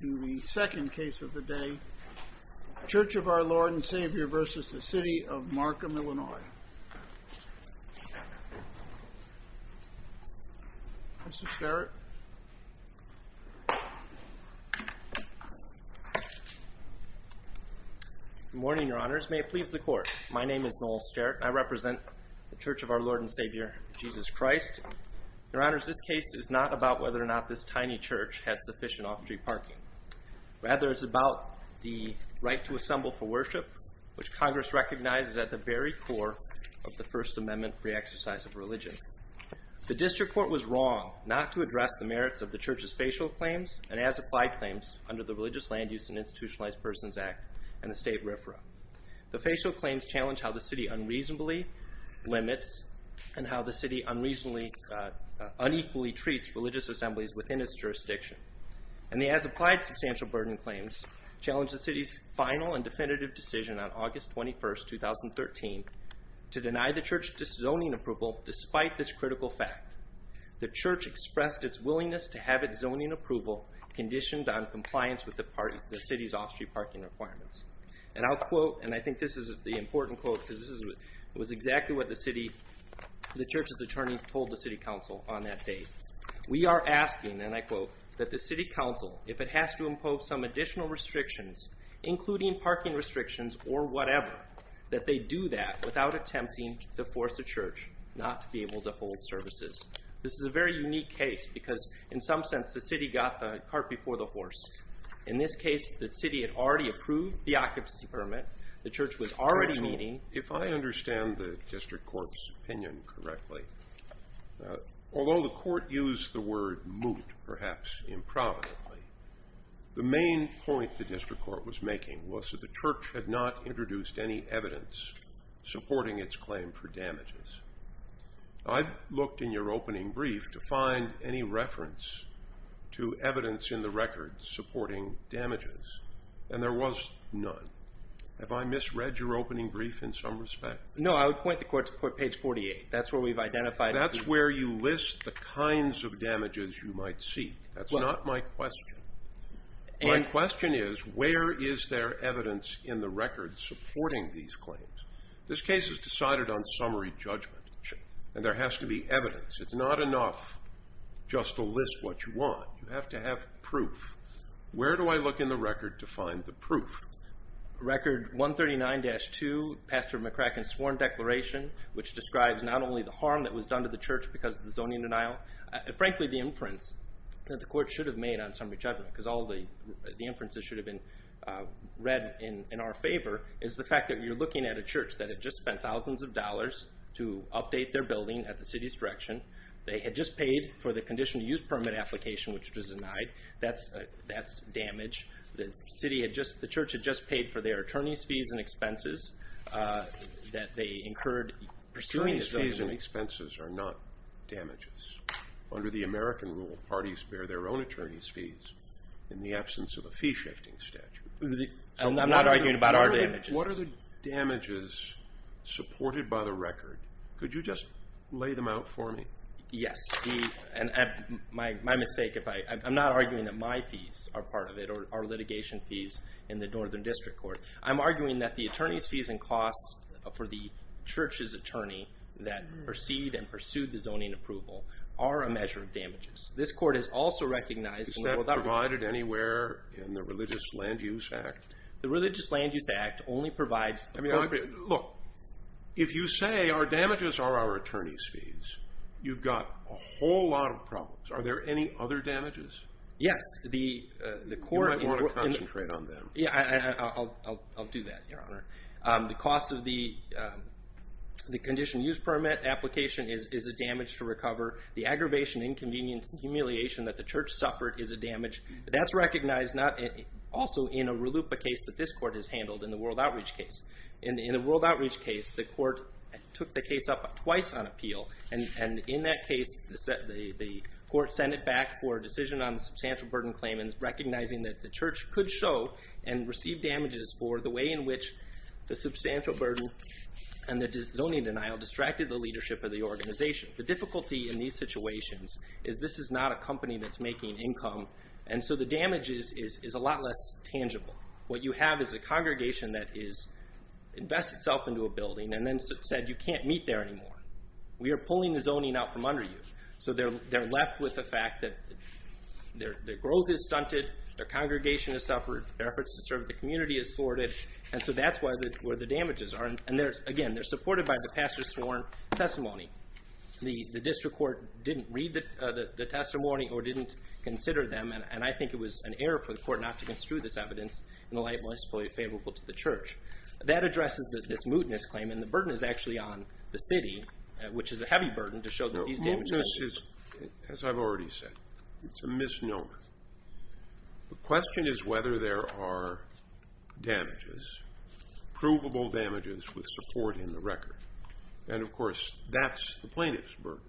The second case of the day, Church of Our Lord and Savior v. City of Markham, Illinois. Mr. Starrett. Good morning, Your Honors. May it please the Court. My name is Noel Starrett. I represent the Church of Our Lord and Savior, Jesus Christ. Your Honors, this case is not about whether or not this tiny church had sufficient off-street parking. Rather, it's about the right to assemble for worship, which Congress recognizes as at the very core of the First Amendment free exercise of religion. The District Court was wrong not to address the merits of the Church's facial claims and as-applied claims under the Religious Land Use and Institutionalized Persons Act and the state RFRA. The facial claims challenge how the City unreasonably limits and how the City unequally treats religious assemblies within its jurisdiction. And the as-applied substantial burden claims challenge the City's final and definitive decision on August 21, 2013, to deny the Church zoning approval despite this critical fact. The Church expressed its willingness to have its zoning approval conditioned on compliance with the City's off-street parking requirements. And I'll quote, and I think this is the important quote because this was exactly what the Church's attorneys told the City Council on that day. We are asking, and I quote, that the City Council, if it has to impose some additional restrictions, including parking restrictions or whatever, that they do that without attempting to force the Church not to be able to hold services. This is a very unique case because, in some sense, the City got the cart before the horse. In this case, the City had already approved the occupancy permit. The Church was already meeting. If I understand the district court's opinion correctly, although the court used the word moot, perhaps improvidently, the main point the district court was making was that the Church had not introduced any evidence supporting its claim for damages. I looked in your opening brief to find any reference to evidence in the record supporting damages, and there was none. Have I misread your opening brief in some respect? No, I would point the court to page 48. That's where we've identified the... That's where you list the kinds of damages you might seek. That's not my question. My question is, where is there evidence in the record supporting these claims? This case is decided on summary judgment, and there has to be evidence. It's not enough just to list what you want. You have to have proof. Where do I look in the record to find the proof? Record 139-2, Pastor McCracken's sworn declaration, which describes not only the harm that was done to the Church because of the zoning denial. Frankly, the inference that the court should have made on summary judgment, because all the inferences should have been read in our favor, is the fact that you're looking at a church that had just spent thousands of dollars to update their building at the city's direction. They had just paid for the condition to use permit application, which was denied. That's damage. The church had just paid for their attorney's fees and expenses that they incurred pursuing the zoning. Fees and expenses are not damages. Under the American rule, parties bear their own attorney's fees in the absence of a fee-shifting statute. I'm not arguing about our damages. What are the damages supported by the record? Could you just lay them out for me? Yes. My mistake, I'm not arguing that my fees are part of it or litigation fees in the Northern District Court. I'm arguing that the attorney's fees and costs for the church's attorney that preceded and pursued the zoning approval are a measure of damages. This court has also recognized... Is that provided anywhere in the Religious Land Use Act? The Religious Land Use Act only provides... Look, if you say our damages are our attorney's fees, you've got a whole lot of problems. Are there any other damages? Yes. You might want to concentrate on them. I'll do that, Your Honor. The cost of the condition use permit application is a damage to recover. The aggravation, inconvenience, and humiliation that the church suffered is a damage. That's recognized also in a RLUIPA case that this court has handled in the World Outreach case. In the World Outreach case, the court took the case up twice on appeal. In that case, the court sent it back for a decision on the substantial burden claim and recognizing that the church could show and receive damages for the way in which the substantial burden and the zoning denial distracted the leadership of the organization. The difficulty in these situations is this is not a company that's making income, and so the damage is a lot less tangible. What you have is a congregation that has invested itself into a building and then said, you can't meet there anymore. We are pulling the zoning out from under you. They're left with the fact that their growth is stunted, their congregation has suffered, their efforts to serve the community is thwarted, and so that's where the damages are. Again, they're supported by the pastor's sworn testimony. The district court didn't read the testimony or didn't consider them, and I think it was an error for the court not to construe this evidence in the light most fully favorable to the church. That addresses this mootness claim, and the burden is actually on the city, which is a heavy burden to show that these damages were made. No, mootness is, as I've already said, it's a misnomer. The question is whether there are damages, provable damages with support in the record. And, of course, that's the plaintiff's burden.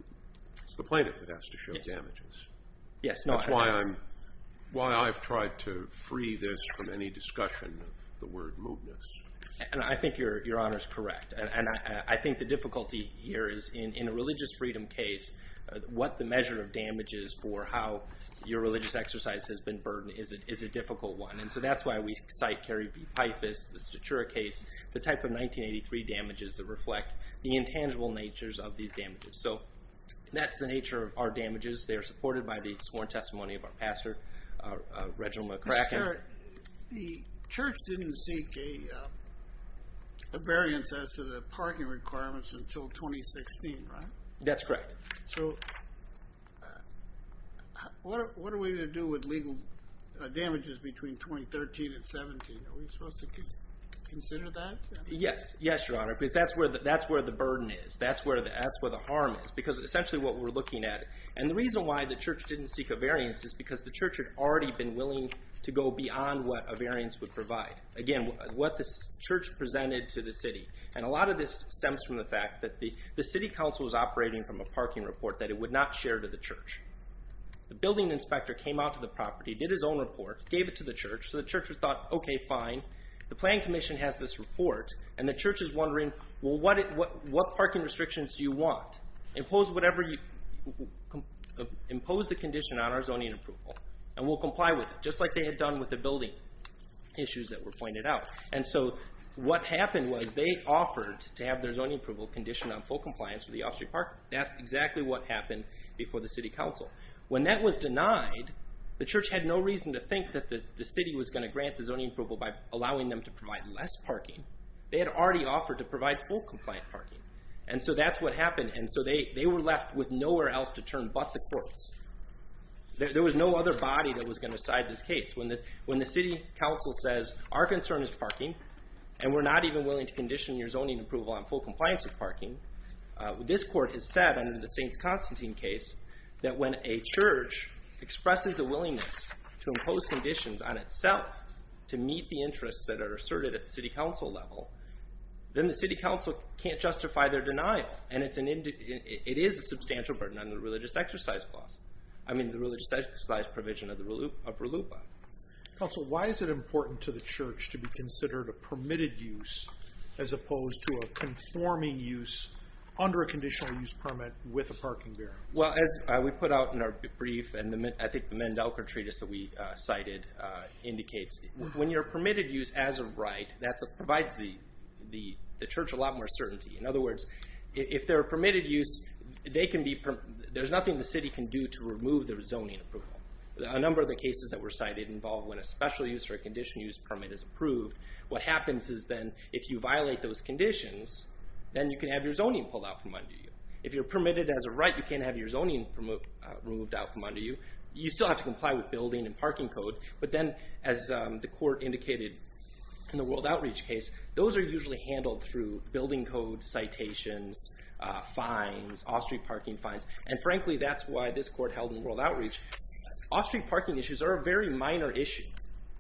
Yes. That's why I've tried to free this from any discussion of the word mootness. And I think Your Honor's correct, and I think the difficulty here is in a religious freedom case, what the measure of damage is for how your religious exercise has been burdened is a difficult one, and so that's why we cite Kerry B. Pythas, the Statura case, the type of 1983 damages that reflect the intangible natures of these damages. So that's the nature of our damages. They are supported by the sworn testimony of our pastor, Reginald McCracken. Mr. Kerr, the church didn't seek a variance as to the parking requirements until 2016, right? That's correct. So what are we going to do with legal damages between 2013 and 17? Are we supposed to consider that? Yes, Your Honor, because that's where the burden is. That's where the harm is because essentially what we're looking at, and the reason why the church didn't seek a variance is because the church had already been willing to go beyond what a variance would provide. Again, what the church presented to the city, and a lot of this stems from the fact that the city council was operating from a parking report that it would not share to the church. The building inspector came out to the property, did his own report, gave it to the church, so the church thought, okay, fine. The planning commission has this report, and the church is wondering, well, what parking restrictions do you want? Impose the condition on our zoning approval, and we'll comply with it, just like they had done with the building issues that were pointed out. And so what happened was they offered to have their zoning approval conditioned on full compliance with the off-street parking. That's exactly what happened before the city council. When that was denied, the church had no reason to think that the city was going to grant the zoning approval by allowing them to provide less parking. They had already offered to provide full compliant parking. And so that's what happened. And so they were left with nowhere else to turn but the courts. There was no other body that was going to side this case. When the city council says, our concern is parking, and we're not even willing to condition your zoning approval on full compliance with parking, this court has said under the St. Constantine case that when a church expresses a willingness to impose conditions on itself to meet the interests that are asserted at the city council level, then the city council can't justify their denial. And it is a substantial burden on the religious exercise clause, I mean the religious exercise provision of RLUIPA. Council, why is it important to the church to be considered a permitted use as opposed to a conforming use under a conditional use permit with a parking barrier? Well, as we put out in our brief, and I think the Mandelker Treatise that we cited indicates, when you're permitted use as a right, that provides the church a lot more certainty. In other words, if they're permitted use, there's nothing the city can do to remove their zoning approval. A number of the cases that were cited involve when a special use or a condition use permit is approved. What happens is then if you violate those conditions, then you can have your zoning pulled out from under you. If you're permitted as a right, you can't have your zoning removed out from under you. You still have to comply with building and parking code. But then, as the court indicated in the World Outreach case, those are usually handled through building code citations, fines, off-street parking fines. And frankly, that's why this court held in World Outreach. Off-street parking issues are a very minor issue.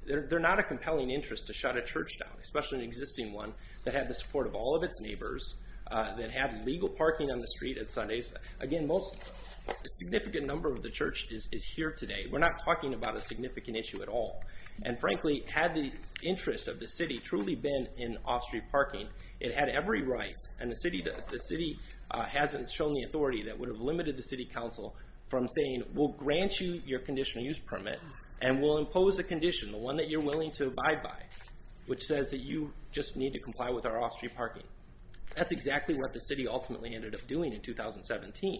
They're not a compelling interest to shut a church down, especially an existing one that had the support of all of its neighbors, that had legal parking on the street at Sundays. Again, a significant number of the church is here today. We're not talking about a significant issue at all. And frankly, had the interest of the city truly been in off-street parking, it had every right, and the city hasn't shown the authority that would have limited the city council from saying, we'll grant you your conditional use permit, and we'll impose a condition, the one that you're willing to abide by, which says that you just need to comply with our off-street parking. That's exactly what the city ultimately ended up doing in 2017.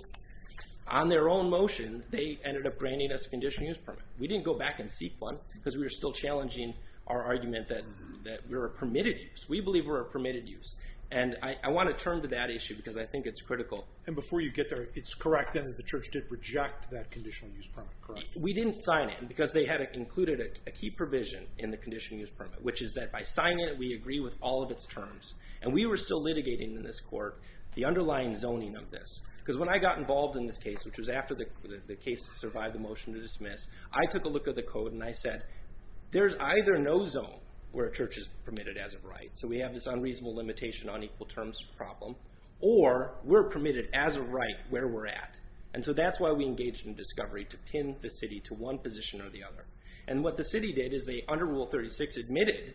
On their own motion, they ended up granting us a conditional use permit. We didn't go back and seek one because we were still challenging our argument that we're a permitted use. We believe we're a permitted use. And I want to turn to that issue because I think it's critical. And before you get there, it's correct then that the church did reject that conditional use permit, correct? We didn't sign it because they had included a key provision in the conditional use permit, which is that by signing it, we agree with all of its terms. And we were still litigating in this court the underlying zoning of this. Because when I got involved in this case, which was after the case survived the motion to dismiss, I took a look at the code and I said, there's either no zone where a church is permitted as a right, so we have this unreasonable limitation on equal terms problem, or we're permitted as a right where we're at. And so that's why we engaged in discovery to pin the city to one position or the other. And what the city did is they, under Rule 36, admitted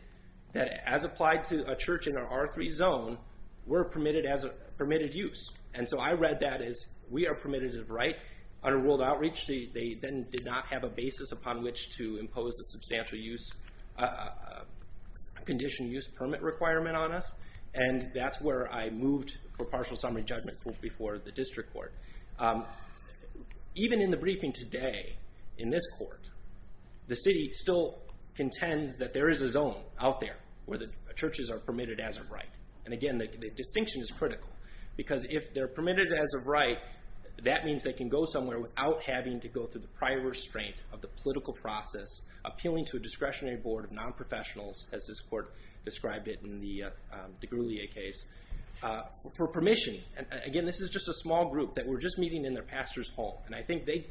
that as applied to a church in our R3 zone, we're permitted use. And so I read that as we are permitted as a right. Under World Outreach, they then did not have a basis upon which to impose a substantial use, a conditional use permit requirement on us. And that's where I moved for partial summary judgment before the district court. Even in the briefing today in this court, the city still contends that there is a zone out there where the churches are permitted as a right. And again, the distinction is critical. Because if they're permitted as a right, that means they can go somewhere without having to go through the prior restraint of the political process, appealing to a discretionary board of non-professionals, as this court described it in the DeGruyere case, for permission. Again, this is just a small group that we're just meeting in their pastor's home. And I think they,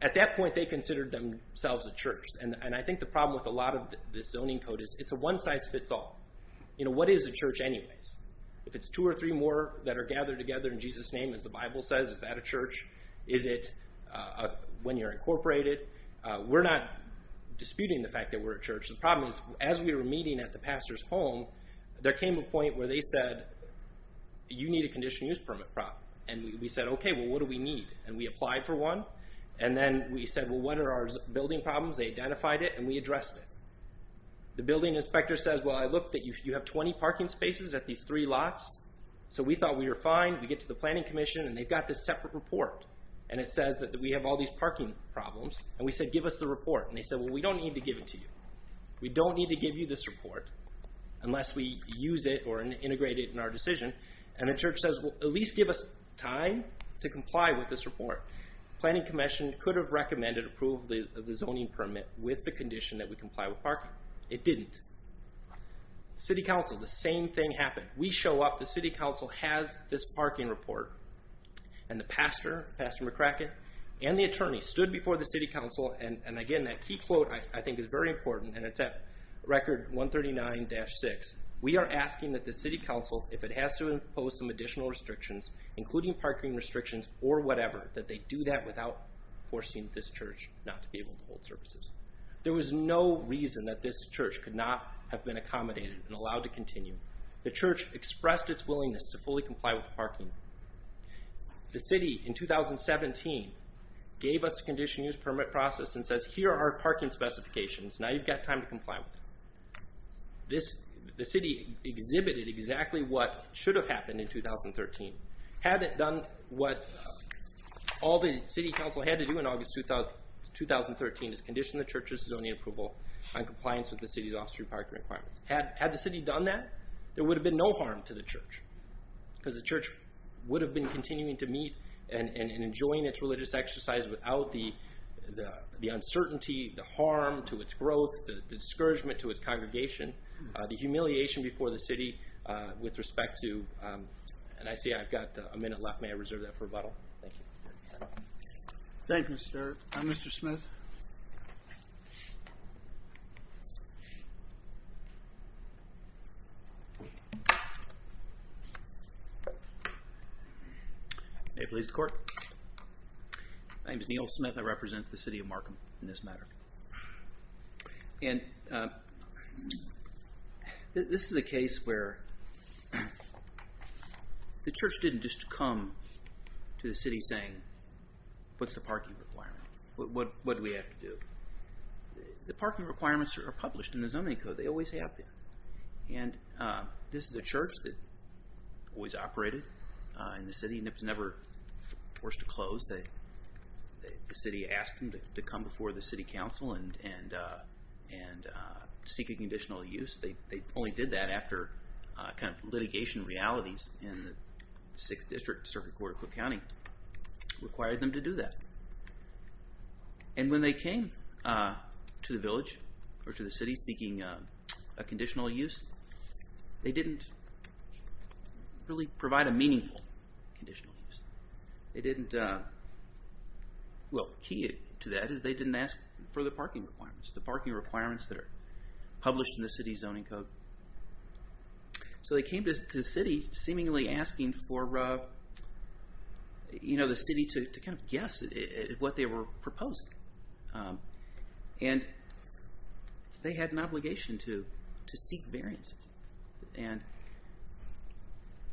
at that point, they considered themselves a church. And I think the problem with a lot of this zoning code is it's a one-size-fits-all. You know, what is a church anyways? If it's two or three more that are gathered together in Jesus' name, as the Bible says, is that a church? Is it when you're incorporated? We're not disputing the fact that we're a church. The problem is, as we were meeting at the pastor's home, there came a point where they said, you need a condition use permit prop. And we said, okay, well, what do we need? And we applied for one. And then we said, well, what are our building problems? They identified it, and we addressed it. The building inspector says, well, I looked, you have 20 parking spaces at these three lots. So we thought we were fine. We get to the planning commission, and they've got this separate report. And it says that we have all these parking problems. And we said, give us the report. And they said, well, we don't need to give it to you. We don't need to give you this report unless we use it or integrate it in our decision. And the church says, well, at least give us time to comply with this report. Planning commission could have recommended approval of the zoning permit with the condition that we comply with parking. It didn't. City council, the same thing happened. We show up. The city council has this parking report. And the pastor, Pastor McCracken, and the attorney stood before the city council. And again, that key quote, I think, is very important. And it's at record 139-6. We are asking that the city council, if it has to impose some additional restrictions, including parking restrictions or whatever, that they do that without forcing this church not to be able to hold services. There was no reason that this church could not have been accommodated and allowed to continue. The church expressed its willingness to fully comply with parking. The city, in 2017, gave us a condition use permit process and says, here are our parking specifications. Now you've got time to comply with them. The city exhibited exactly what should have happened in 2013. Had it done what all the city council had to do in August 2013, is condition the church's zoning approval in compliance with the city's off-street parking requirements. Had the city done that, there would have been no harm to the church. Because the church would have been continuing to meet and enjoying its religious exercise without the uncertainty, the harm to its growth, the discouragement to its congregation, the humiliation before the city with respect to... And I see I've got a minute left. May I reserve that for rebuttal? Thank you. Thank you, Mr. Smith. May it please the court. My name is Neal Smith. I represent the city of Markham in this matter. And this is a case where the church didn't just come to the city saying, what's the parking requirement? What do we have to do? The parking requirements are published in the zoning code. They always have been. And this is a church that always operated in the city and it was never forced to close. The city asked them to come before the city council and seek a conditional use. They only did that after litigation realities in the 6th District Circuit Court of Cook County required them to do that. And when they came to the village or to the city seeking a conditional use, they didn't really provide a meaningful conditional use. They didn't... Well, key to that is they didn't ask for the parking requirements, the parking requirements that are published in the city's zoning code. So they came to the city seemingly asking for the city to guess what they were proposing. And they had an obligation to seek variances. And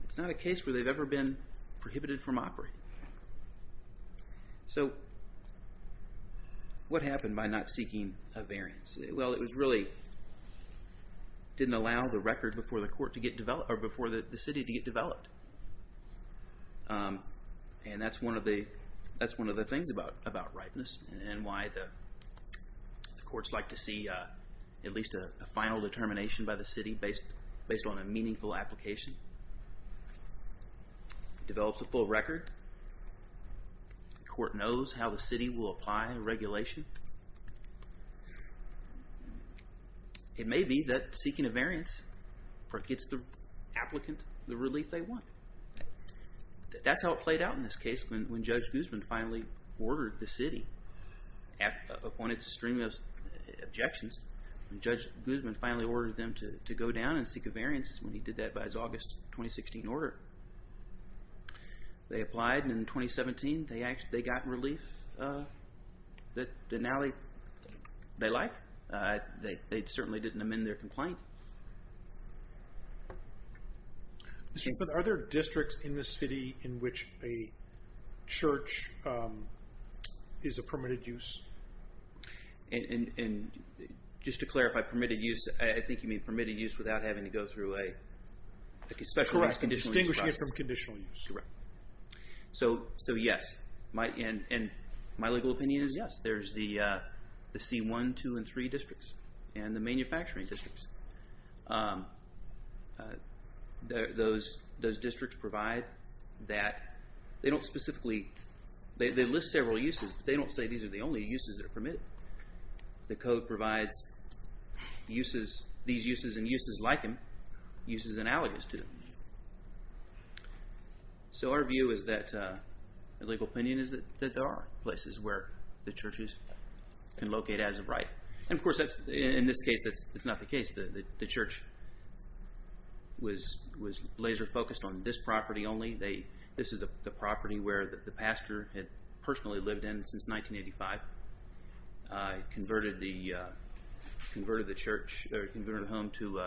it's not a case where they've ever been prohibited from operating. So what happened by not seeking a variance? Well, it was really didn't allow the record before the court to get developed, or before the city to get developed. And that's one of the things about ripeness and why the courts like to see at least a final determination by the city based on a meaningful application. It develops a full record. The court knows how the city will apply regulation. It may be that seeking a variance gets the applicant the relief they want. That's how it played out in this case when Judge Guzman finally ordered the city. Upon its stream of objections, Judge Guzman finally ordered them to go down and seek a variance. And he did that by his August 2016 order. They applied in 2017. They got relief that now they like. They certainly didn't amend their complaint. But are there districts in the city in which a church is a permitted use? And just to clarify, permitted use, I think you mean permitted use without having to go through a special use? Correct. Distinguishing it from conditional use. Correct. So, yes. And my legal opinion is yes. There's the C1, 2, and 3 districts and the manufacturing districts. Those districts provide that. They don't specifically, they list several uses, but they don't say these are the only uses that are permitted. The code provides these uses and uses like them, uses analogous to them. So our view is that, our legal opinion is that there are places where the churches can locate as of right. And, of course, in this case, that's not the case. The church was laser focused on this property only. This is the property where the pastor had personally lived in since 1985. Converted the church or converted it home to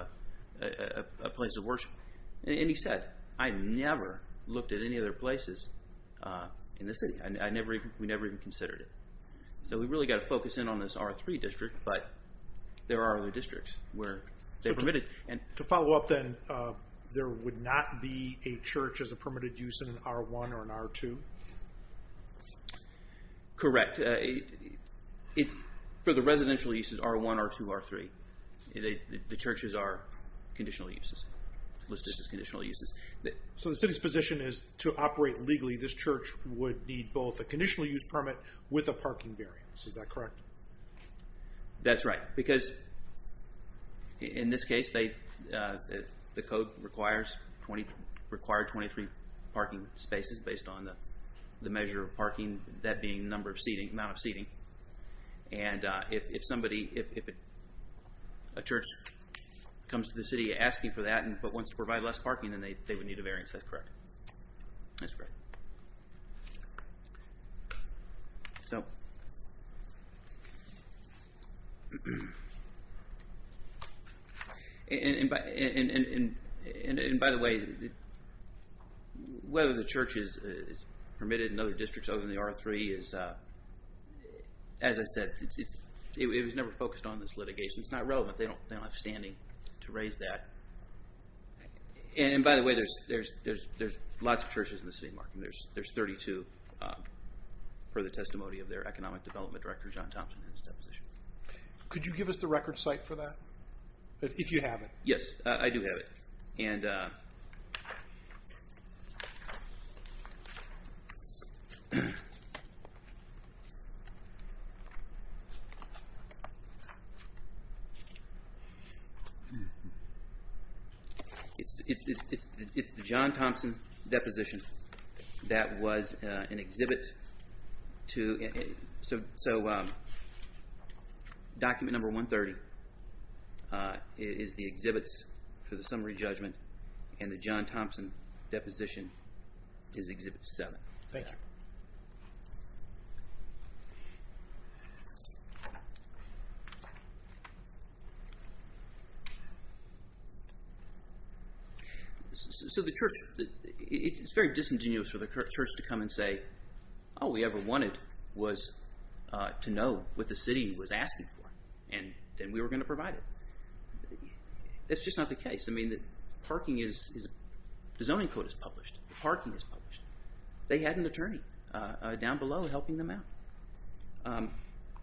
a place of worship. And he said, I never looked at any other places in the city. We never even considered it. So we've really got to focus in on this R3 district, but there are other districts where they're permitted. To follow up then, there would not be a church as a permitted use in an R1 or an R2? Correct. For the residential uses, R1, R2, R3. The churches are conditional uses, listed as conditional uses. So the city's position is to operate legally, this church would need both a conditional use permit with a parking variance. Is that correct? That's right. Because in this case, the code requires 23 parking spaces based on the measure of parking, that being the amount of seating. And if a church comes to the city asking for that but wants to provide less parking, then they would need a variance. That's correct. That's correct. And by the way, whether the church is permitted in other districts other than the R3, as I said, it was never focused on this litigation. It's not relevant. They don't have standing to raise that. And by the way, there's lots of churches in the city, Mark, and there's 32 per the testimony of their economic development director, John Thompson, in his deposition. Could you give us the record site for that, if you have it? Yes, I do have it. It's the John Thompson deposition. That was an exhibit. So document number 130 is the exhibits for the summary judgment, and the John Thompson deposition is exhibit 7. Thank you. So the church, it's very disingenuous for the church to come and say, all we ever wanted was to know what the city was asking for, and then we were going to provide it. That's just not the case. I mean, the zoning code is published. The parking is published. They had an attorney down below helping them out.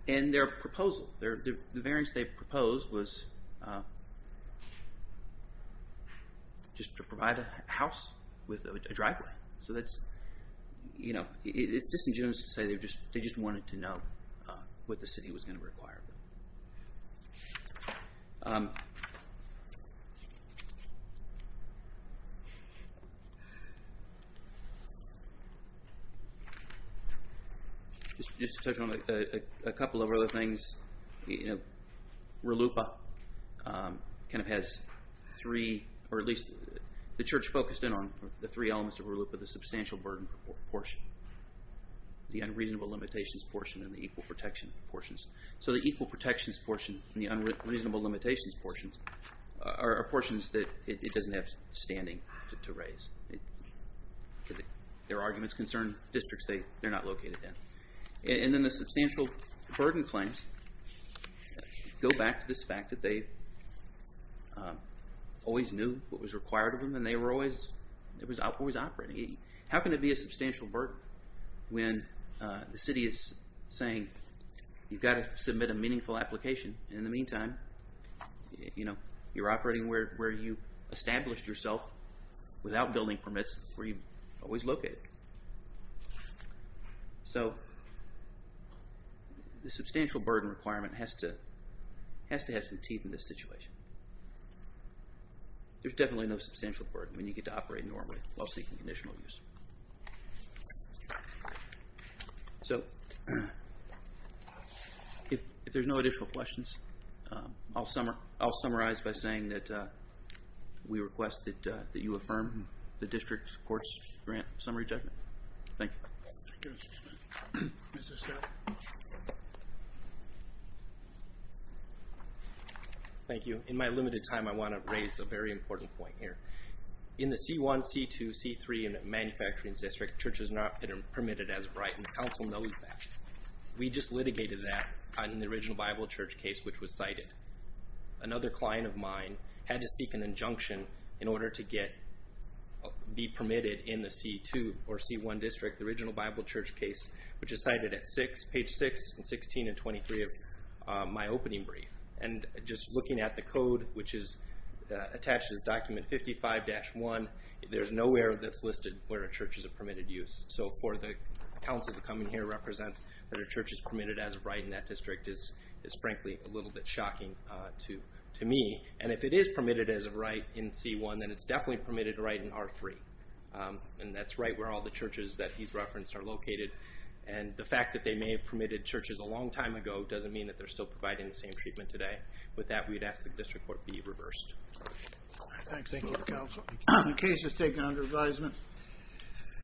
And their proposal, the variance they proposed was just to provide a house with a driveway. So that's, you know, it's disingenuous to say they just wanted to know what the city was going to require. Just to touch on a couple of other things, RLUIPA kind of has three, or at least the church focused in on the three elements of RLUIPA, the substantial burden portion, the unreasonable limitations portion, and the equal protection portions. So the equal protections portion and the unreasonable limitations portions are portions that it doesn't have standing to raise. Their arguments concern districts they're not located in. And then the substantial burden claims go back to this fact that they always knew what was required of them and they were always operating. How can it be a substantial burden when the city is saying you've got to submit a meaningful application and in the meantime, you know, you're operating where you established yourself without building permits where you always located. So the substantial burden requirement has to have some teeth in this situation. There's definitely no substantial burden when you get to operate normally while seeking additional use. So if there's no additional questions, I'll summarize by saying that we request that you affirm the district court's grant summary judgment. Thank you. Thank you. In my limited time, I want to raise a very important point here. In the C1, C2, C3 manufacturing district, church is not permitted as a right, and the council knows that. We just litigated that in the original Bible Church case, which was cited. Another client of mine had to seek an injunction in order to be permitted in the C2 or C1 district, the original Bible Church case, which is cited at page 6 and 16 and 23 of my opening brief. And just looking at the code, which is attached as document 55-1, there's nowhere that's listed where a church is a permitted use. So for the council to come in here and represent that a church is permitted as a right in that district is, frankly, a little bit shocking to me. And if it is permitted as a right in C1, then it's definitely permitted a right in R3. And that's right where all the churches that he's referenced are located. And the fact that they may have permitted churches a long time ago doesn't mean that they're still providing the same treatment today. With that, we'd ask that this report be reversed. Thanks. Thank you, counsel. The case is taken under advisement.